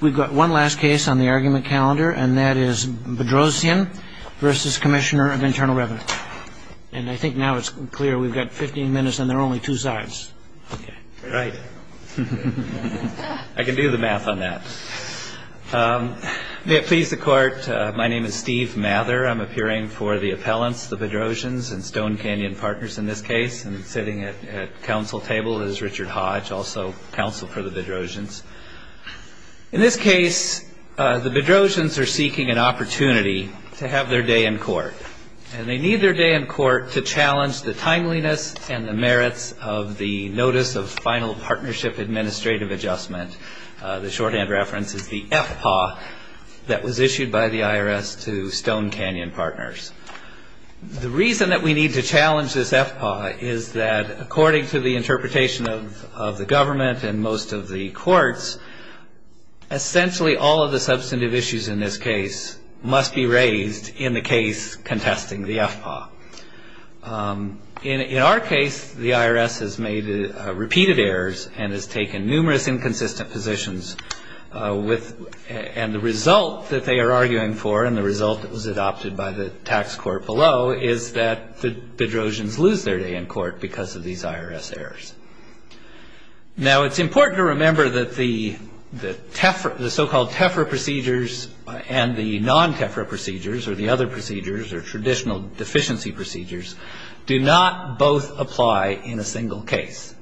We've got one last case on the argument calendar, and that is Bedrosian v. Commissioner of Internal Revenue. And I think now it's clear we've got 15 minutes, and there are only two sides. Right. I can do the math on that. May it please the Court, my name is Steve Mather. I'm appearing for the appellants, the Bedrosians, and Stone Canyon Partners in this case. And sitting at counsel table is Richard Hodge, also counsel for the Bedrosians. In this case, the Bedrosians are seeking an opportunity to have their day in court. And they need their day in court to challenge the timeliness and the merits of the Notice of Final Partnership Administrative Adjustment. The shorthand reference is the FPAW that was issued by the IRS to Stone Canyon Partners. The reason that we need to challenge this FPAW is that according to the interpretation of the government and most of the courts, essentially all of the substantive issues in this case must be raised in the case contesting the FPAW. In our case, the IRS has made repeated errors and has taken numerous inconsistent positions. And the result that they are arguing for and the result that was adopted by the tax court below is that the Bedrosians lose their day in court because of these IRS errors. Now, it's important to remember that the so-called TEFRA procedures and the non-TEFRA procedures or the other procedures or traditional deficiency procedures do not both apply in a single case.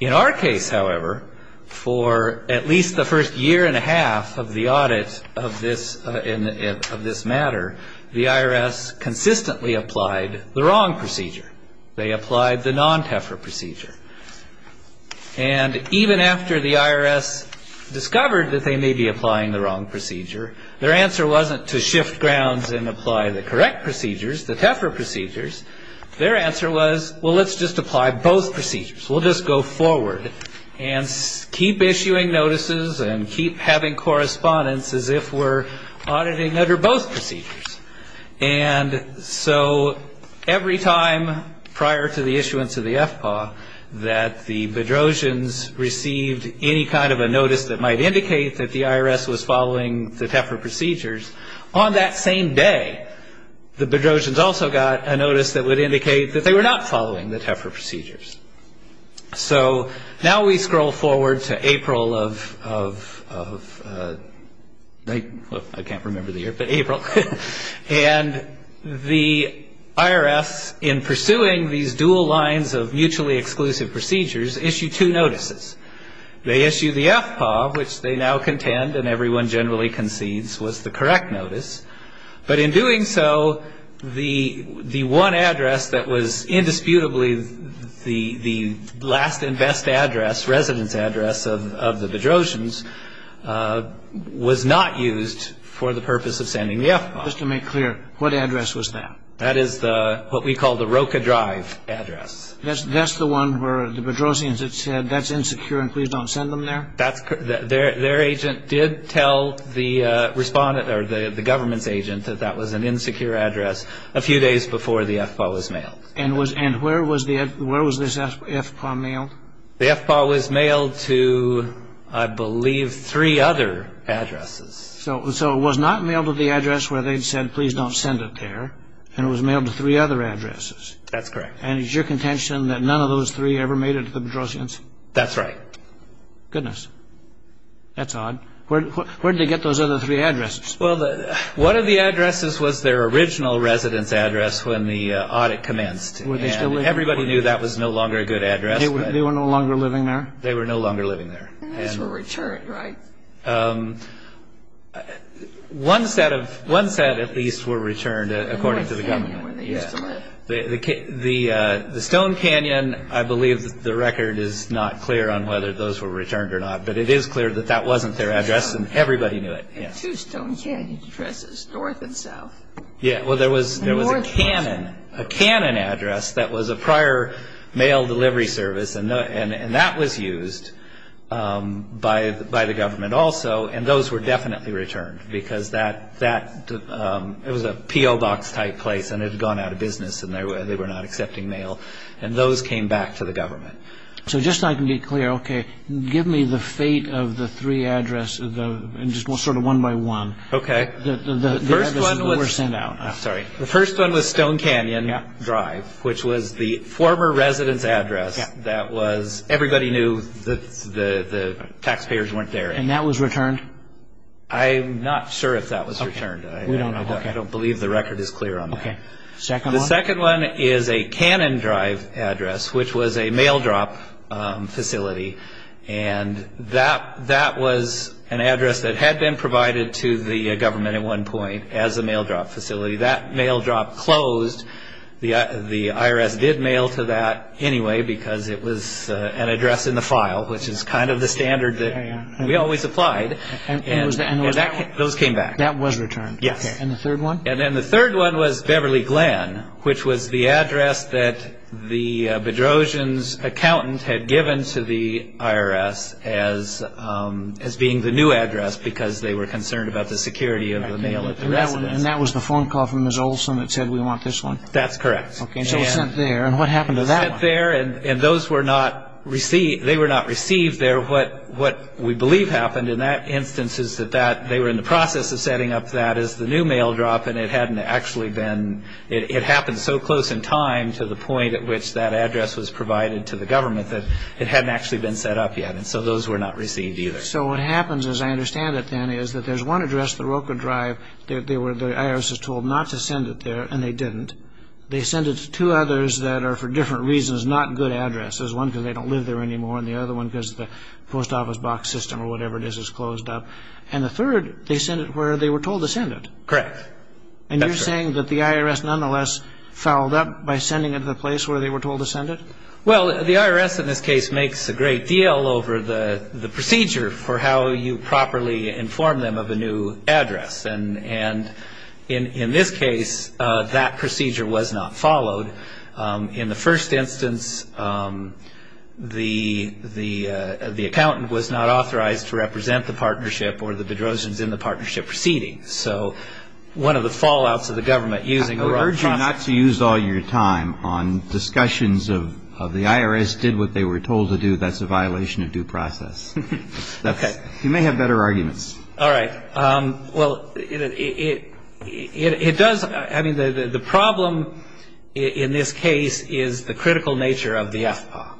In our case, however, for at least the first year and a half of the audit of this matter, the IRS consistently applied the wrong procedure. They applied the non-TEFRA procedure. And even after the IRS discovered that they may be applying the wrong procedure, their answer wasn't to shift grounds and apply the correct procedures, the TEFRA procedures. Their answer was, well, let's just apply both procedures. We'll just go forward and keep issuing notices and keep having correspondence as if we're auditing under both procedures. And so every time prior to the issuance of the FPAW that the Bedrosians received any kind of a notice that might indicate that the IRS was following the TEFRA procedures, on that same day, the Bedrosians also got a notice that would indicate that they were not following the TEFRA procedures. So now we scroll forward to April of, well, I can't remember the year, but April. And the IRS, in pursuing these dual lines of mutually exclusive procedures, issued two notices. They issued the FPAW, which they now contend and everyone generally concedes was the correct notice. But in doing so, the one address that was indisputably the last and best address, residence address of the Bedrosians, was not used for the purpose of sending the FPAW. Just to make clear, what address was that? That is what we call the Roca Drive address. That's the one where the Bedrosians had said that's insecure and please don't send them there? That's correct. Their agent did tell the respondent or the government's agent that that was an insecure address a few days before the FPAW was mailed. And where was this FPAW mailed? The FPAW was mailed to, I believe, three other addresses. So it was not mailed to the address where they'd said please don't send it there, and it was mailed to three other addresses? That's correct. And it's your contention that none of those three ever made it to the Bedrosians? That's right. Goodness. That's odd. Where did they get those other three addresses? Well, one of the addresses was their original residence address when the audit commenced. Everybody knew that was no longer a good address. They were no longer living there? They were no longer living there. And these were returned, right? One set at least were returned, according to the government. The Stone Canyon, I believe the record is not clear on whether those were returned or not, but it is clear that that wasn't their address and everybody knew it. And two Stone Canyon addresses, north and south. Yeah, well, there was a Cannon address that was a prior mail delivery service, and that was used by the government also, and those were definitely returned because it was a P.O. Box type place and it had gone out of business and they were not accepting mail, and those came back to the government. So just so I can be clear, okay, give me the fate of the three addresses sort of one by one. Okay. The addresses that were sent out. I'm sorry. The first one was Stone Canyon Drive, which was the former residence address that was, everybody knew the taxpayers weren't there. And that was returned? I'm not sure if that was returned. We don't know. I don't believe the record is clear on that. Okay. The second one? The second one is a Cannon Drive address, which was a mail drop facility, and that was an address that had been provided to the government at one point as a mail drop facility. That mail drop closed. The IRS did mail to that anyway because it was an address in the file, which is kind of the standard that we always applied, and those came back. That was returned? Yes. And the third one? And then the third one was Beverly Glen, which was the address that the Bedrosian's accountant had given to the IRS as being the new address because they were concerned about the security of the mail at the residence. And that was the phone call from Ms. Olson that said we want this one? That's correct. So it was sent there, and what happened to that one? It was sent there, and they were not received there. What we believe happened in that instance is that they were in the process of setting up that as the new mail drop, and it happened so close in time to the point at which that address was provided to the government that it hadn't actually been set up yet, and so those were not received either. So what happens, as I understand it then, is that there's one address, the Roker Drive, that the IRS was told not to send it there, and they didn't. They sent it to two others that are, for different reasons, not good addresses, one because they don't live there anymore and the other one because the post office box system or whatever it is is closed up, and the third, they sent it where they were told to send it. Correct. And you're saying that the IRS nonetheless fouled up by sending it to the place where they were told to send it? Well, the IRS in this case makes a great deal over the procedure for how you properly inform them of a new address, and in this case, that procedure was not followed. In the first instance, the accountant was not authorized to represent the partnership or the Bedrosians in the partnership proceeding. So one of the fallouts of the government using a wrong process. I would urge you not to use all your time on discussions of the IRS did what they were told to do. That's a violation of due process. Okay. You may have better arguments. All right. Well, it does, I mean, the problem in this case is the critical nature of the FPAW,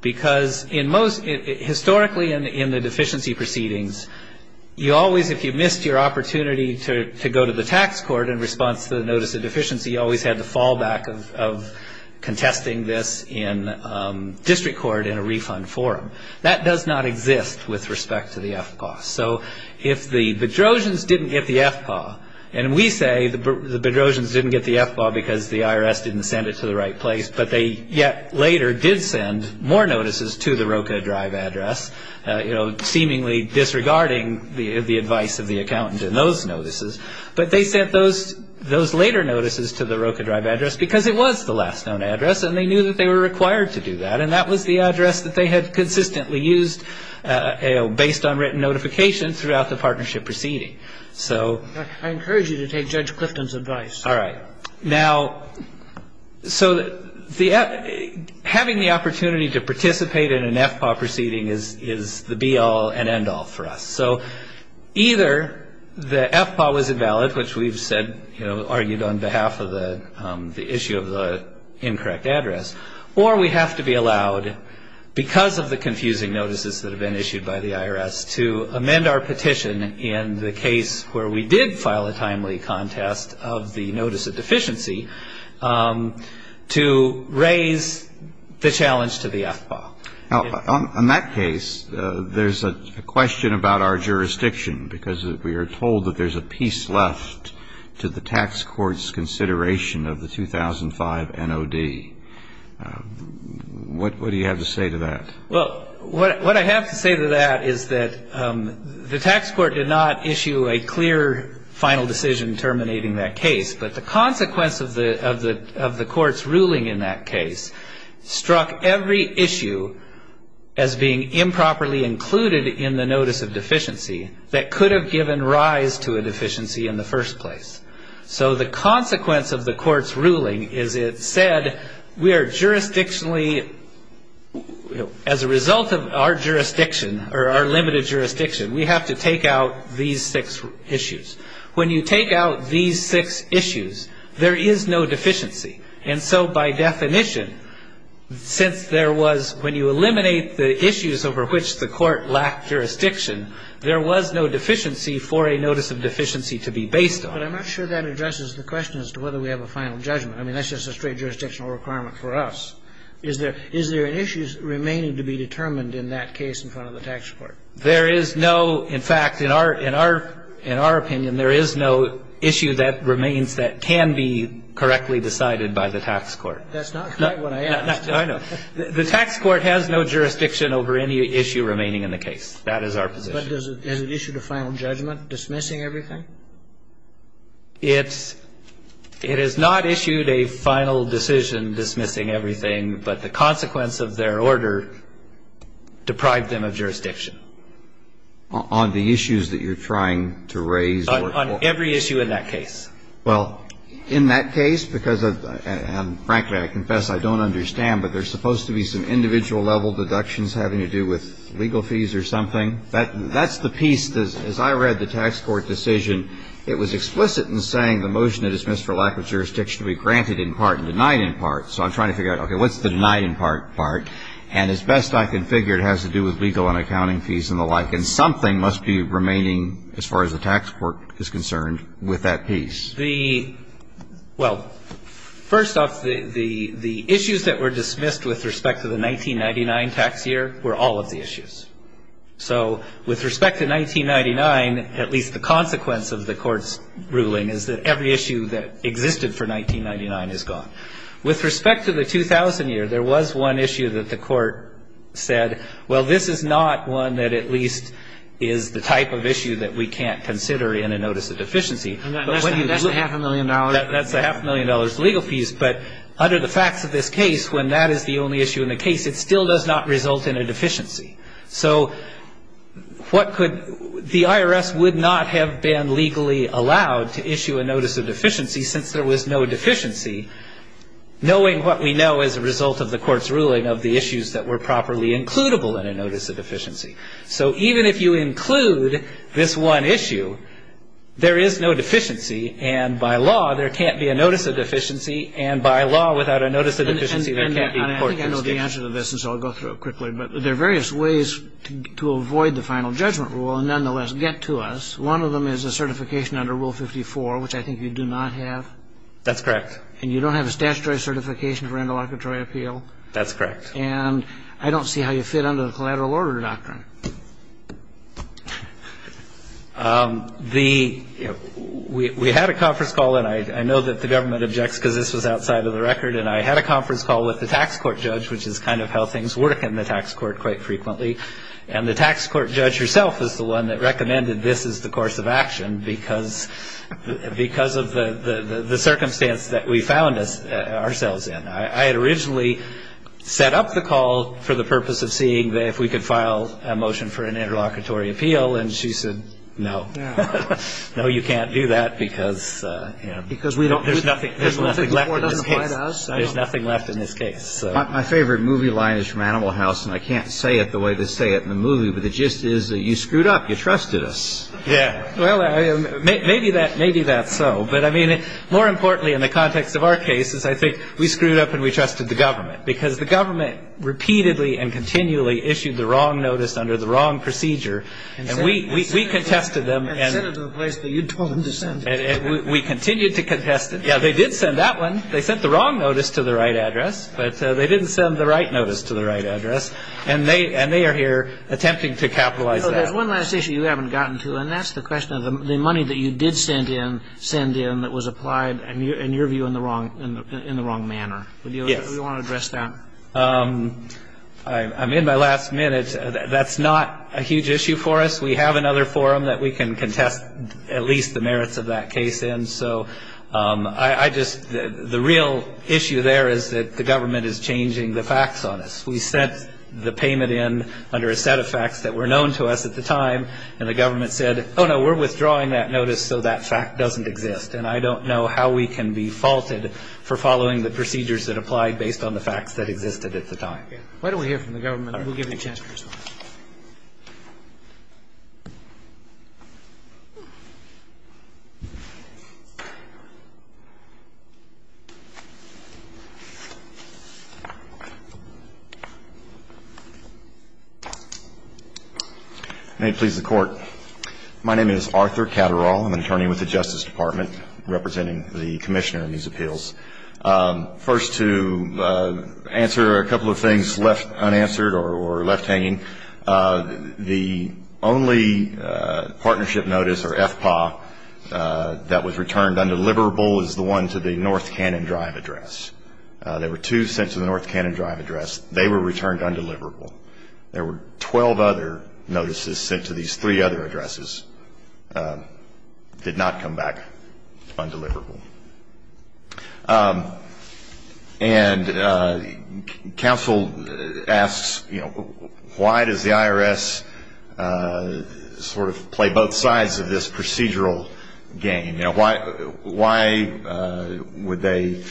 because historically in the deficiency proceedings, you always, if you missed your opportunity to go to the tax court in response to the notice of deficiency, you always had the fallback of contesting this in district court in a refund forum. That does not exist with respect to the FPAW. So if the Bedrosians didn't get the FPAW, and we say the Bedrosians didn't get the FPAW because the IRS didn't send it to the right place, but they yet later did send more notices to the Roka Drive address, seemingly disregarding the advice of the accountant in those notices, but they sent those later notices to the Roka Drive address because it was the last known address and they knew that they were required to do that, and that was the address that they had consistently used based on written notification throughout the partnership proceeding. So ‑‑ I encourage you to take Judge Clifton's advice. All right. Now, so having the opportunity to participate in an FPAW proceeding is the be-all and end-all for us. So either the FPAW was invalid, which we've said, you know, argued on behalf of the issue of the incorrect address, or we have to be allowed because of the confusing notices that have been issued by the IRS to amend our petition in the case where we did file a timely contest of the notice of deficiency to raise the challenge to the FPAW. Now, on that case, there's a question about our jurisdiction because we are told that there's a piece left to the tax court's consideration of the 2005 NOD. What do you have to say to that? Well, what I have to say to that is that the tax court did not issue a clear final decision terminating that case, but the consequence of the court's ruling in that case struck every issue as being improperly included in the notice of deficiency that could have given rise to a deficiency in the first place. So the consequence of the court's ruling is it said we are jurisdictionally, as a result of our jurisdiction or our limited jurisdiction, we have to take out these six issues. When you take out these six issues, there is no deficiency. And so by definition, since there was, when you eliminate the issues over which the court lacked jurisdiction, there was no deficiency for a notice of deficiency to be based on. But I'm not sure that addresses the question as to whether we have a final judgment. I mean, that's just a straight jurisdictional requirement for us. Is there an issue remaining to be determined in that case in front of the tax court? There is no. In fact, in our opinion, there is no issue that remains that can be correctly decided by the tax court. That's not quite what I asked. I know. The tax court has no jurisdiction over any issue remaining in the case. That is our position. But has it issued a final judgment dismissing everything? It has not issued a final decision dismissing everything, but the consequence of their order deprived them of jurisdiction. On the issues that you're trying to raise? On every issue in that case. Well, in that case, because frankly I confess I don't understand, but there's supposed to be some individual level deductions having to do with legal fees or something. That's the piece, as I read the tax court decision, it was explicit in saying the motion to dismiss for lack of jurisdiction to be granted in part and denied in part. So I'm trying to figure out, okay, what's the denied in part, and as best I can figure it has to do with legal and accounting fees and the like, and something must be remaining as far as the tax court is concerned with that piece. Well, first off, the issues that were dismissed with respect to the 1999 tax year were all of the issues. So with respect to 1999, at least the consequence of the court's ruling is that every issue that existed for 1999 is gone. With respect to the 2000 year, there was one issue that the court said, well, this is not one that at least is the type of issue that we can't consider in a notice of deficiency. And that's a half a million dollars? That's a half a million dollars legal fees. But under the facts of this case, when that is the only issue in the case, it still does not result in a deficiency. So what could the IRS would not have been legally allowed to issue a notice of deficiency since there was no deficiency, knowing what we know as a result of the court's ruling of the issues that were properly includable in a notice of deficiency. So even if you include this one issue, there is no deficiency. And by law, there can't be a notice of deficiency. And by law, without a notice of deficiency, there can't be a court decision. I think I know the answer to this, and so I'll go through it quickly. But there are various ways to avoid the final judgment rule and nonetheless get to us. One of them is a certification under Rule 54, which I think you do not have. That's correct. And you don't have a statutory certification for interlocutory appeal. That's correct. And I don't see how you fit under the collateral order doctrine. We had a conference call, and I know that the government objects because this was outside of the record. And I had a conference call with the tax court judge, which is kind of how things work in the tax court quite frequently. And the tax court judge herself is the one that recommended this is the course of action because of the circumstance that we found ourselves in. I had originally set up the call for the purpose of seeing if we could file a motion for an interlocutory appeal, and she said, no, no, you can't do that because there's nothing left in this case. Outside us? There's nothing left in this case. My favorite movie line is from Animal House, and I can't say it the way they say it in the movie, but the gist is you screwed up. You trusted us. Yeah. Well, maybe that's so. But, I mean, more importantly in the context of our cases, I think we screwed up and we trusted the government because the government repeatedly and continually issued the wrong notice under the wrong procedure. And we contested them. And sent it to a place that you told them to send it. We continued to contest it. Yeah, they did send that one. They sent the wrong notice to the right address, but they didn't send the right notice to the right address. And they are here attempting to capitalize that. There's one last issue you haven't gotten to, and that's the question of the money that you did send in that was applied in your view in the wrong manner. Yes. Do you want to address that? I'm in my last minute. That's not a huge issue for us. We have another forum that we can contest at least the merits of that case in. So I just, the real issue there is that the government is changing the facts on us. We sent the payment in under a set of facts that were known to us at the time. And the government said, oh, no, we're withdrawing that notice so that fact doesn't exist. And I don't know how we can be faulted for following the procedures that applied based on the facts that existed at the time. Why don't we hear from the government? We'll give you a chance to respond. May it please the Court. My name is Arthur Catterall. I'm an attorney with the Justice Department representing the Commissioner in these appeals. First to answer a couple of things left unanswered or left hanging. The only partnership notice or FPA that was returned undeliverable is the one to the North Cannon Drive address. There were two sent to the North Cannon Drive address. They were returned undeliverable. There were 12 other notices sent to these three other addresses. Did not come back undeliverable. And counsel asks, you know, why does the IRS sort of play both sides of this procedural game? Why would they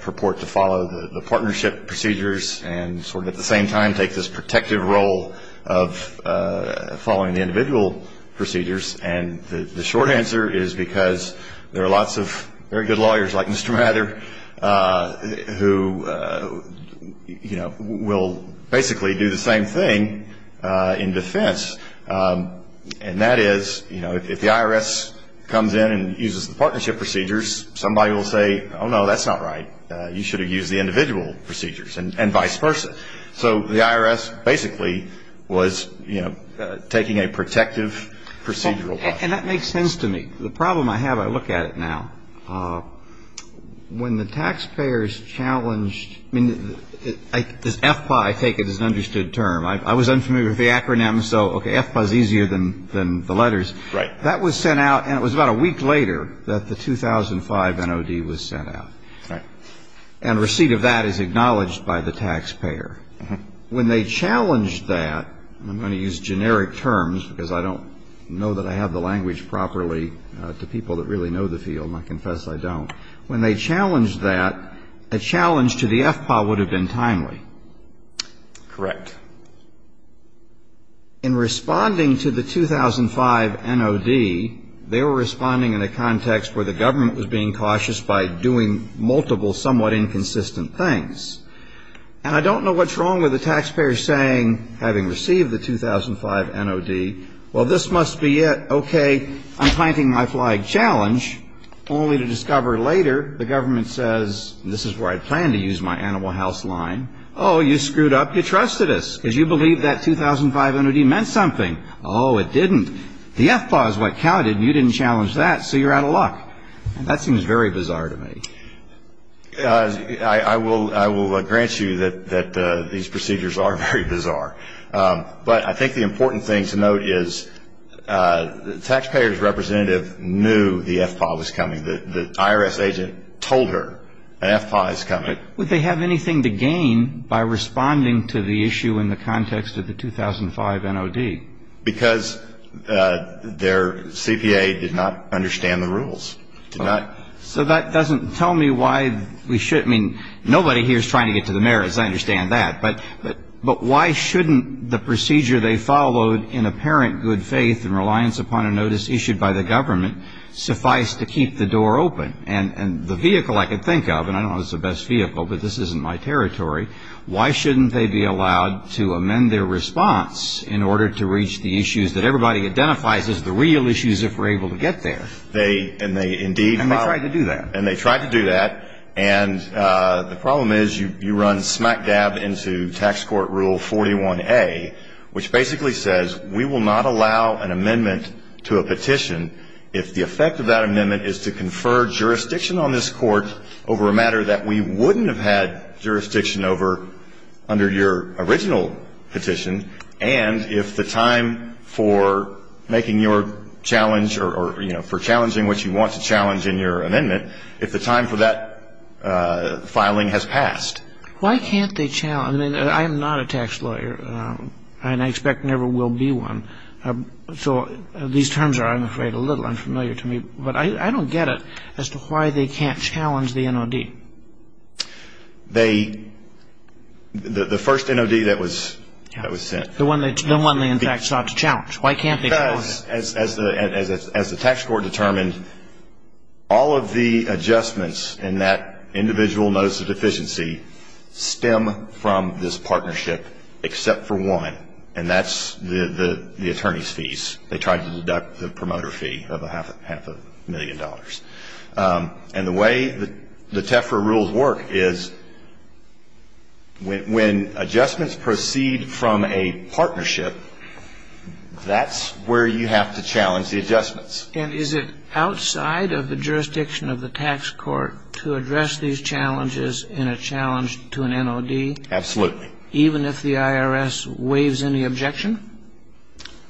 purport to follow the partnership procedures and sort of at the same time take this protective role of following the individual procedures? And the short answer is because there are lots of very good lawyers like Mr. Mather who, you know, will basically do the same thing in defense. And that is, you know, if the IRS comes in and uses the partnership procedures, somebody will say, oh, no, that's not right. You should have used the individual procedures and vice versa. So the IRS basically was, you know, taking a protective procedural role. And that makes sense to me. The problem I have, I look at it now. When the taxpayers challenged, I mean, this FPA, I take it as an understood term. I was unfamiliar with the acronym. So, okay, FPA is easier than the letters. Right. That was sent out and it was about a week later that the 2005 NOD was sent out. Right. And receipt of that is acknowledged by the taxpayer. When they challenged that, I'm going to use generic terms because I don't know that I have the language properly to people that really know the field. And I confess I don't. When they challenged that, a challenge to the FPA would have been timely. Correct. In responding to the 2005 NOD, they were responding in a context where the government was being cautious by doing multiple somewhat inconsistent things. And I don't know what's wrong with the taxpayer saying, having received the 2005 NOD, well, this must be it. Okay. I'm planting my flag challenge, only to discover later the government says, this is where I plan to use my animal house line. Oh, you screwed up. You trusted us because you believed that 2005 NOD meant something. Oh, it didn't. The FPA is what counted and you didn't challenge that, so you're out of luck. That seems very bizarre to me. I will grant you that these procedures are very bizarre. But I think the important thing to note is the taxpayer's representative knew the FPA was coming. The IRS agent told her an FPA is coming. Would they have anything to gain by responding to the issue in the context of the 2005 NOD? Because their CPA did not understand the rules. So that doesn't tell me why we should. I mean, nobody here is trying to get to the mayor, as I understand that. But why shouldn't the procedure they followed in apparent good faith and reliance upon a notice issued by the government suffice to keep the door open? And the vehicle I can think of, and I don't know if it's the best vehicle, but this isn't my territory, why shouldn't they be allowed to amend their response in order to reach the issues that everybody identifies as the real issues if we're able to get there? And they tried to do that. And they tried to do that. And the problem is you run smack dab into tax court rule 41A, which basically says we will not allow an amendment to a petition if the effect of that amendment is to confer jurisdiction on this court over a matter that we wouldn't have had jurisdiction over under your original petition, and if the time for making your challenge or, you know, for challenging what you want to challenge in your amendment, if the time for that filing has passed. Why can't they challenge? I mean, I am not a tax lawyer, and I expect never will be one. So these terms are, I'm afraid, a little unfamiliar to me. But I don't get it as to why they can't challenge the NOD. The first NOD that was sent. The one they in fact sought to challenge. Why can't they challenge? Because as the tax court determined, all of the adjustments in that individual notice of deficiency stem from this partnership except for one, and that's the attorney's fees. They tried to deduct the promoter fee of half a million dollars. And the way the TEFRA rules work is when adjustments proceed from a partnership, that's where you have to challenge the adjustments. And is it outside of the jurisdiction of the tax court to address these challenges in a challenge to an NOD? Absolutely. Even if the IRS waives any objection?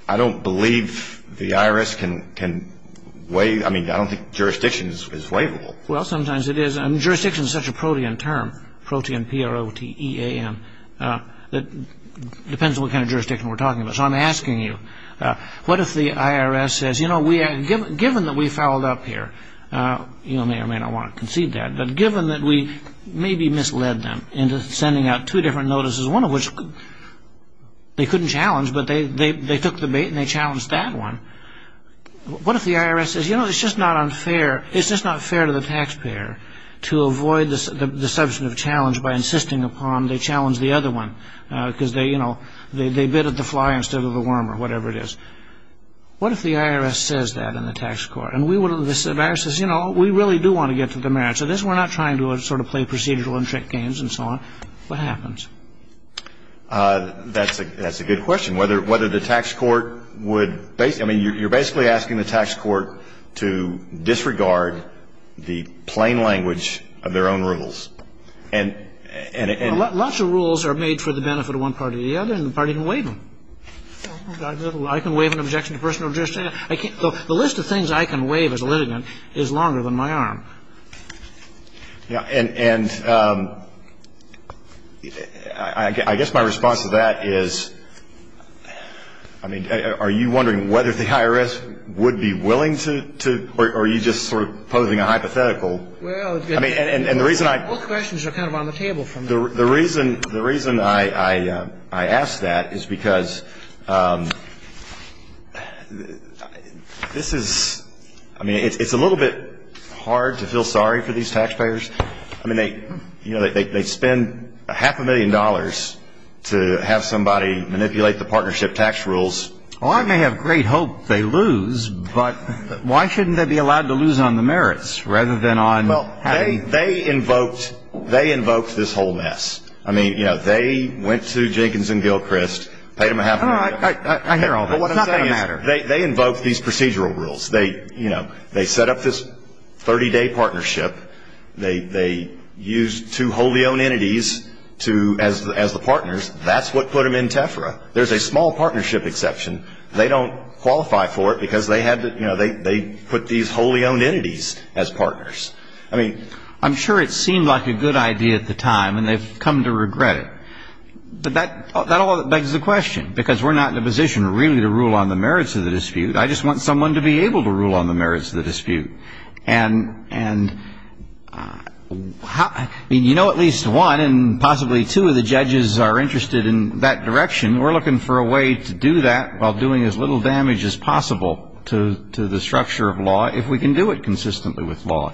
I don't believe the IRS can waive. I mean, I don't think jurisdiction is waivable. Well, sometimes it is. Jurisdiction is such a protean term, protean, P-R-O-T-E-A-N, that depends on what kind of jurisdiction we're talking about. So I'm asking you, what if the IRS says, you know, given that we fouled up here, you may or may not want to concede that, but given that we maybe misled them into sending out two different notices, one of which they couldn't challenge, but they took the bait and they challenged that one, what if the IRS says, you know, it's just not unfair to the taxpayer to avoid the substantive challenge by insisting upon they challenge the other one because they, you know, they bid at the fly instead of the worm or whatever it is. What if the IRS says that in the tax court? And the IRS says, you know, we really do want to get to the merits of this. We're not trying to sort of play procedural and trick games and so on. What happens? That's a good question. Whether the tax court would, I mean, you're basically asking the tax court to disregard the plain language of their own rules. Lots of rules are made for the benefit of one party or the other, and the party can waive them. I can waive an objection to personal jurisdiction. The list of things I can waive as a litigant is longer than my arm. Yeah. And I guess my response to that is, I mean, are you wondering whether the IRS would be willing to, or are you just sort of posing a hypothetical? Well, it's going to be both questions are kind of on the table from there. The reason I ask that is because this is ‑‑ I mean, it's a little bit hard to feel sorry for these taxpayers. I mean, they spend half a million dollars to have somebody manipulate the partnership tax rules. Well, I may have great hope they lose, but why shouldn't they be allowed to lose on the merits rather than on ‑‑ Well, they invoked this whole mess. I mean, you know, they went to Jenkins and Gilchrist, paid them a half a million. I hear all that. But what I'm saying is they invoked these procedural rules. You know, they set up this 30‑day partnership. They used two wholly owned entities as the partners. That's what put them in TEFRA. There's a small partnership exception. They don't qualify for it because they put these wholly owned entities as partners. I'm sure it seemed like a good idea at the time, and they've come to regret it. But that all begs the question, because we're not in a position really to rule on the merits of the dispute. I just want someone to be able to rule on the merits of the dispute. And you know at least one and possibly two of the judges are interested in that direction. And we're looking for a way to do that while doing as little damage as possible to the structure of law, if we can do it consistently with law.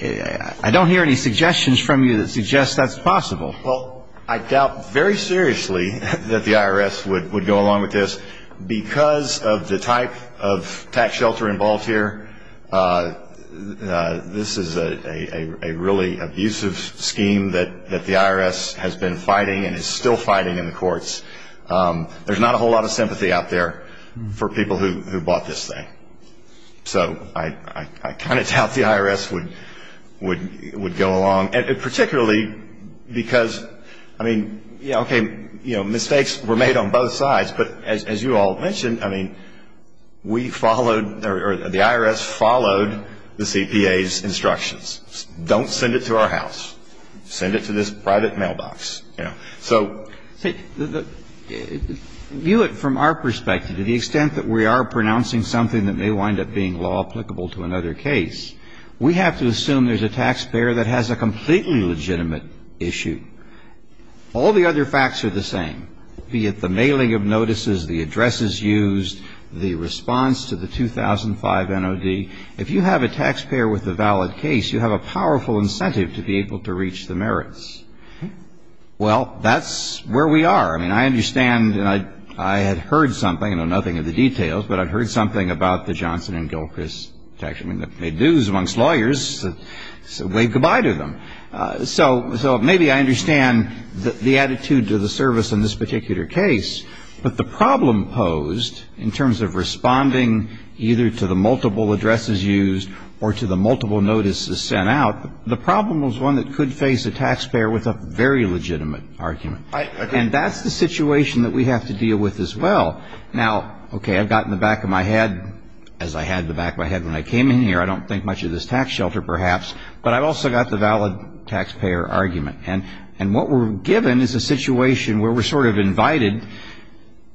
I don't hear any suggestions from you that suggest that's possible. Well, I doubt very seriously that the IRS would go along with this. Because of the type of tax shelter involved here, this is a really abusive scheme that the IRS has been fighting and is still fighting in the courts. There's not a whole lot of sympathy out there for people who bought this thing. So I kind of doubt the IRS would go along. And particularly because, I mean, okay, mistakes were made on both sides. But as you all mentioned, I mean, we followed or the IRS followed the CPA's instructions. Don't send it to our house. Send it to this private mailbox. You know. So the view from our perspective, to the extent that we are pronouncing something that may wind up being law applicable to another case, we have to assume there's a taxpayer that has a completely legitimate issue. All the other facts are the same, be it the mailing of notices, the addresses used, the response to the 2005 NOD. If you have a taxpayer with a valid case, you have a powerful incentive to be able to reach the merits. Well, that's where we are. I mean, I understand, and I had heard something, I know nothing of the details, but I'd heard something about the Johnson and Gilchrist tax. I mean, they made news amongst lawyers, so wave goodbye to them. So maybe I understand the attitude to the service in this particular case, but the problem posed in terms of responding either to the multiple addresses used or to the multiple notices sent out, the problem was one that could face a taxpayer with a very legitimate argument. And that's the situation that we have to deal with as well. Now, okay, I've got in the back of my head, as I had in the back of my head when I came in here, I don't think much of this tax shelter perhaps, but I've also got the valid taxpayer argument. And what we're given is a situation where we're sort of invited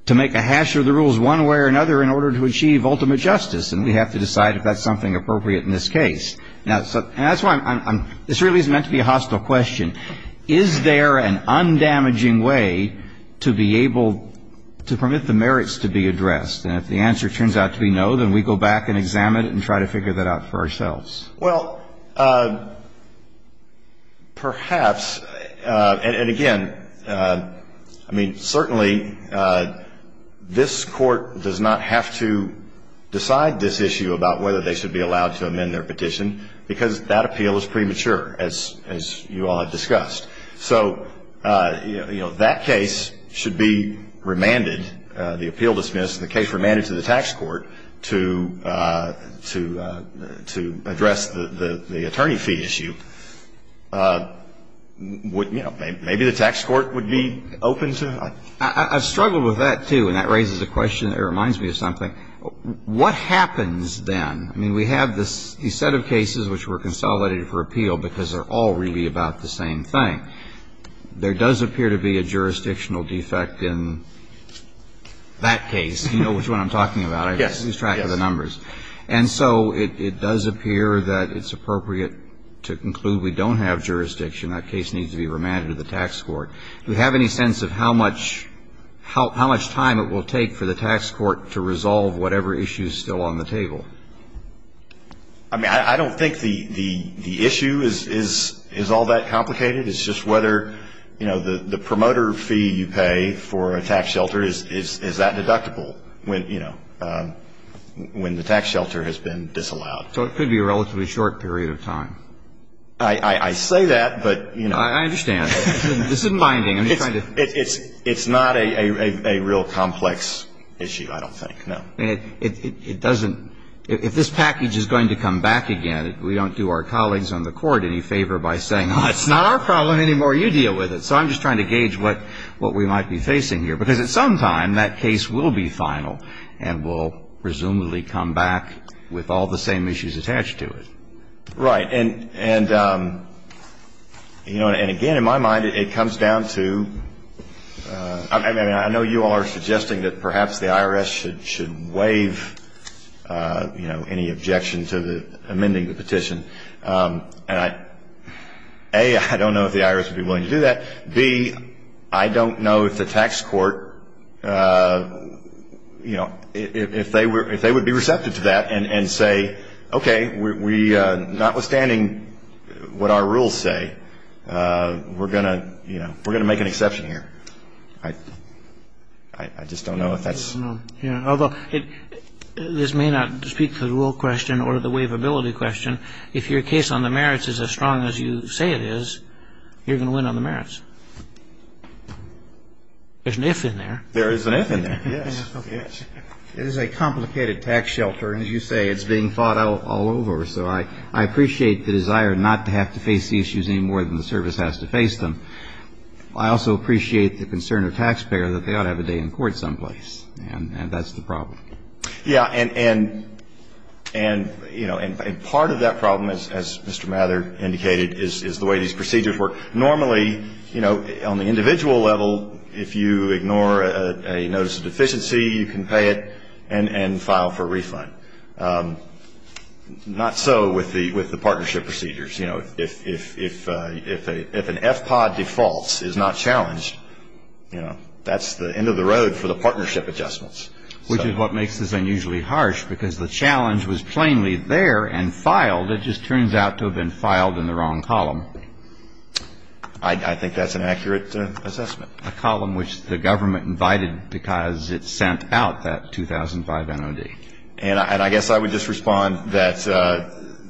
to make a hash of the rules one way or another in order to achieve ultimate justice, and we have to decide if that's something appropriate in this case. Now, and that's why I'm, this really is meant to be a hostile question. Is there an undamaging way to be able to permit the merits to be addressed? And if the answer turns out to be no, then we go back and examine it and try to figure that out for ourselves. Well, perhaps, and again, I mean, certainly this court does not have to decide this issue about whether they should be allowed to amend their petition because that appeal is premature, as you all have discussed. So, you know, that case should be remanded, the appeal dismissed, the case remanded to the tax court to address the attorney fee issue. You know, maybe the tax court would be open to it. I've struggled with that, too, and that raises a question that reminds me of something. What happens then? I mean, we have this set of cases which were consolidated for appeal because they're all really about the same thing. I mean, there does appear to be a jurisdictional defect in that case. You know which one I'm talking about. Yes. I just lost track of the numbers. Yes. And so it does appear that it's appropriate to conclude we don't have jurisdiction. That case needs to be remanded to the tax court. Do we have any sense of how much time it will take for the tax court to resolve whatever issue is still on the table? I mean, I don't think the issue is all that complicated. It's just whether, you know, the promoter fee you pay for a tax shelter, is that deductible when, you know, when the tax shelter has been disallowed? So it could be a relatively short period of time. I say that, but, you know. I understand. This is minding. I'm just trying to. It's not a real complex issue, I don't think, no. I mean, it doesn't – if this package is going to come back again, we don't do our colleagues on the court any favor by saying, oh, it's not our problem anymore. You deal with it. So I'm just trying to gauge what we might be facing here. Because at some time, that case will be final and will presumably come back with all the same issues attached to it. Right. And, you know, and again, in my mind, it comes down to – I mean, I know you all are suggesting that perhaps the IRS should waive, you know, any objection to amending the petition. And I – A, I don't know if the IRS would be willing to do that. B, I don't know if the tax court, you know, if they would be receptive to that and say, okay, we – notwithstanding what our rules say, we're going to, you know, we're going to make an exception here. I – I just don't know if that's – I don't know. Yeah. Although, this may not speak to the rule question or the waivability question. If your case on the merits is as strong as you say it is, you're going to win on the merits. There's an if in there. There is an if in there. Yes. Yes. It is a complicated tax shelter. And as you say, it's being fought all over. So I appreciate the desire not to have to face the issues any more than the service has to face them. I also appreciate the concern of taxpayers that they ought to have a day in court someplace. And that's the problem. Yeah. And, you know, and part of that problem, as Mr. Mather indicated, is the way these procedures work. Normally, you know, on the individual level, if you ignore a notice of deficiency, you can pay it and file for a refund. Not so with the partnership procedures. You know, if an FPOD defaults, is not challenged, you know, that's the end of the road for the partnership adjustments. Which is what makes this unusually harsh, because the challenge was plainly there and filed. It just turns out to have been filed in the wrong column. I think that's an accurate assessment. A column which the government invited because it sent out that 2005 NOD. And I guess I would just respond that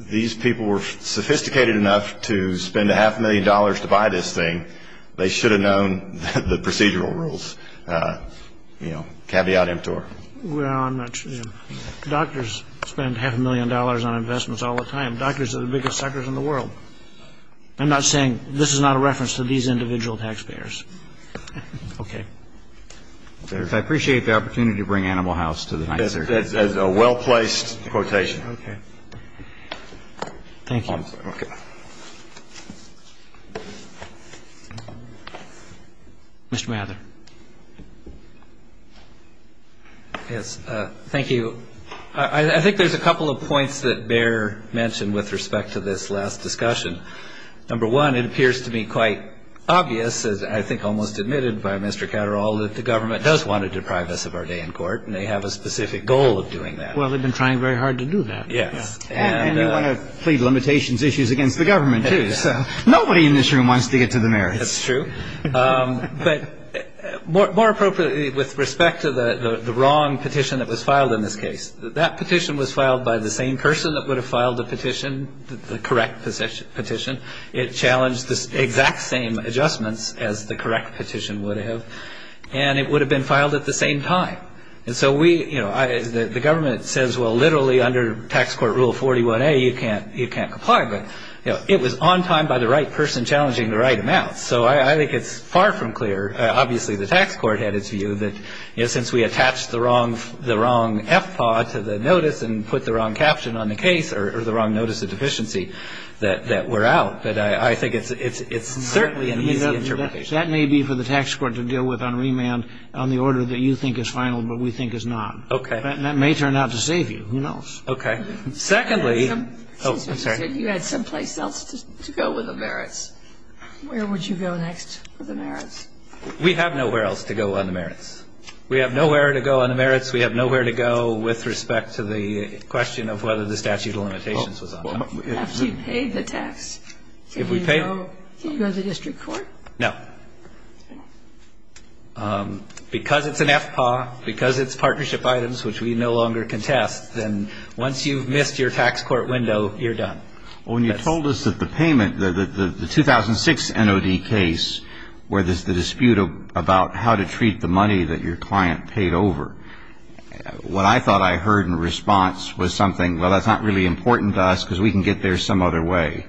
these people were sophisticated enough to spend a half a million dollars to buy this thing. They should have known the procedural rules. You know, caveat emptor. Well, I'm not sure. Doctors spend half a million dollars on investments all the time. Doctors are the biggest suckers in the world. I'm not saying this is not a reference to these individual taxpayers. Okay. I appreciate the opportunity to bring Animal House to the night, sir. That's a well-placed quotation. Okay. Thank you. Okay. Mr. Mather. Yes. Thank you. I think there's a couple of points that Bear mentioned with respect to this last discussion. Number one, it appears to me quite obvious, as I think almost admitted by Mr. Catterall, that the government does want to deprive us of our day in court. And they have a specific goal of doing that. Well, they've been trying very hard to do that. Yes. And you want to plead limitations issues against the government, too. So nobody in this room wants to get to the merits. That's true. But more appropriately, with respect to the wrong petition that was filed in this case, that petition was filed by the same person that would have filed the petition, the correct petition. It challenged the exact same adjustments as the correct petition would have. And it would have been filed at the same time. And so we, you know, the government says, well, literally under tax court rule 41A, you can't comply. But, you know, it was on time by the right person challenging the right amount. So I think it's far from clear. Obviously, the tax court had its view that, you know, since we attached the wrong FPAW to the notice and put the wrong caption on the case or the wrong notice of deficiency, that we're out. But I think it's certainly an easy interpretation. That may be for the tax court to deal with on remand on the order that you think is final but we think is not. Okay. That may turn out to save you. Who knows? Okay. Secondly. Oh, I'm sorry. You had someplace else to go with the merits. Where would you go next with the merits? We have nowhere else to go on the merits. We have nowhere to go on the merits. We have nowhere to go with respect to the question of whether the statute of limitations was on time. After you paid the tax, can you go to the district court? No. Okay. Because it's an FPAW, because it's partnership items, which we no longer contest, then once you've missed your tax court window, you're done. Well, when you told us that the payment, the 2006 NOD case, where there's the dispute about how to treat the money that your client paid over, what I thought I heard in response was something, well, that's not really important to us because we can get there some other way.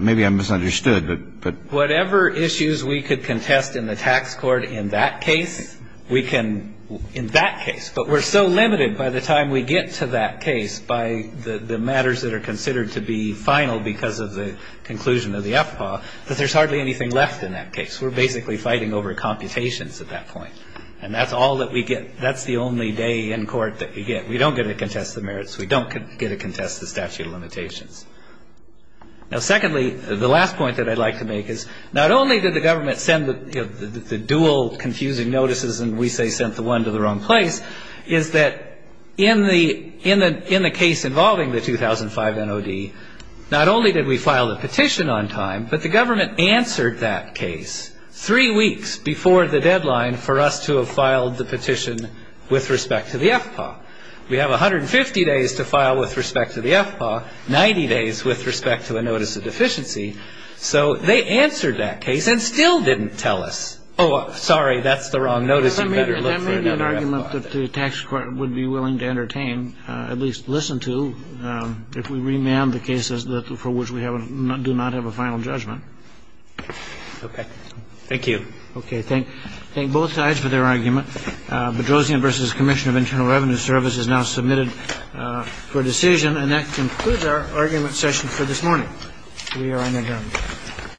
Maybe I misunderstood. Whatever issues we could contest in the tax court in that case, we can in that case. But we're so limited by the time we get to that case, by the matters that are considered to be final because of the conclusion of the FPAW, that there's hardly anything left in that case. We're basically fighting over computations at that point. And that's all that we get. That's the only day in court that we get. We don't get to contest the merits. We don't get to contest the statute of limitations. Now, secondly, the last point that I'd like to make is not only did the government send the dual confusing notices, and we say sent the one to the wrong place, is that in the case involving the 2005 NOD, not only did we file the petition on time, but the government answered that case three weeks before the deadline for us to have filed the petition with respect to the FPAW. We have 150 days to file with respect to the FPAW, 90 days with respect to the notice of deficiency. So they answered that case and still didn't tell us, oh, sorry, that's the wrong notice. You better look for another FPAW. And that may be an argument that the tax court would be willing to entertain, at least listen to, if we remand the cases for which we do not have a final judgment. Okay. Thank you. Okay. Thank both sides for their argument. Bedrosian v. Commission of Internal Revenue Service is now submitted for decision. And that concludes our argument session for this morning. We are adjourned.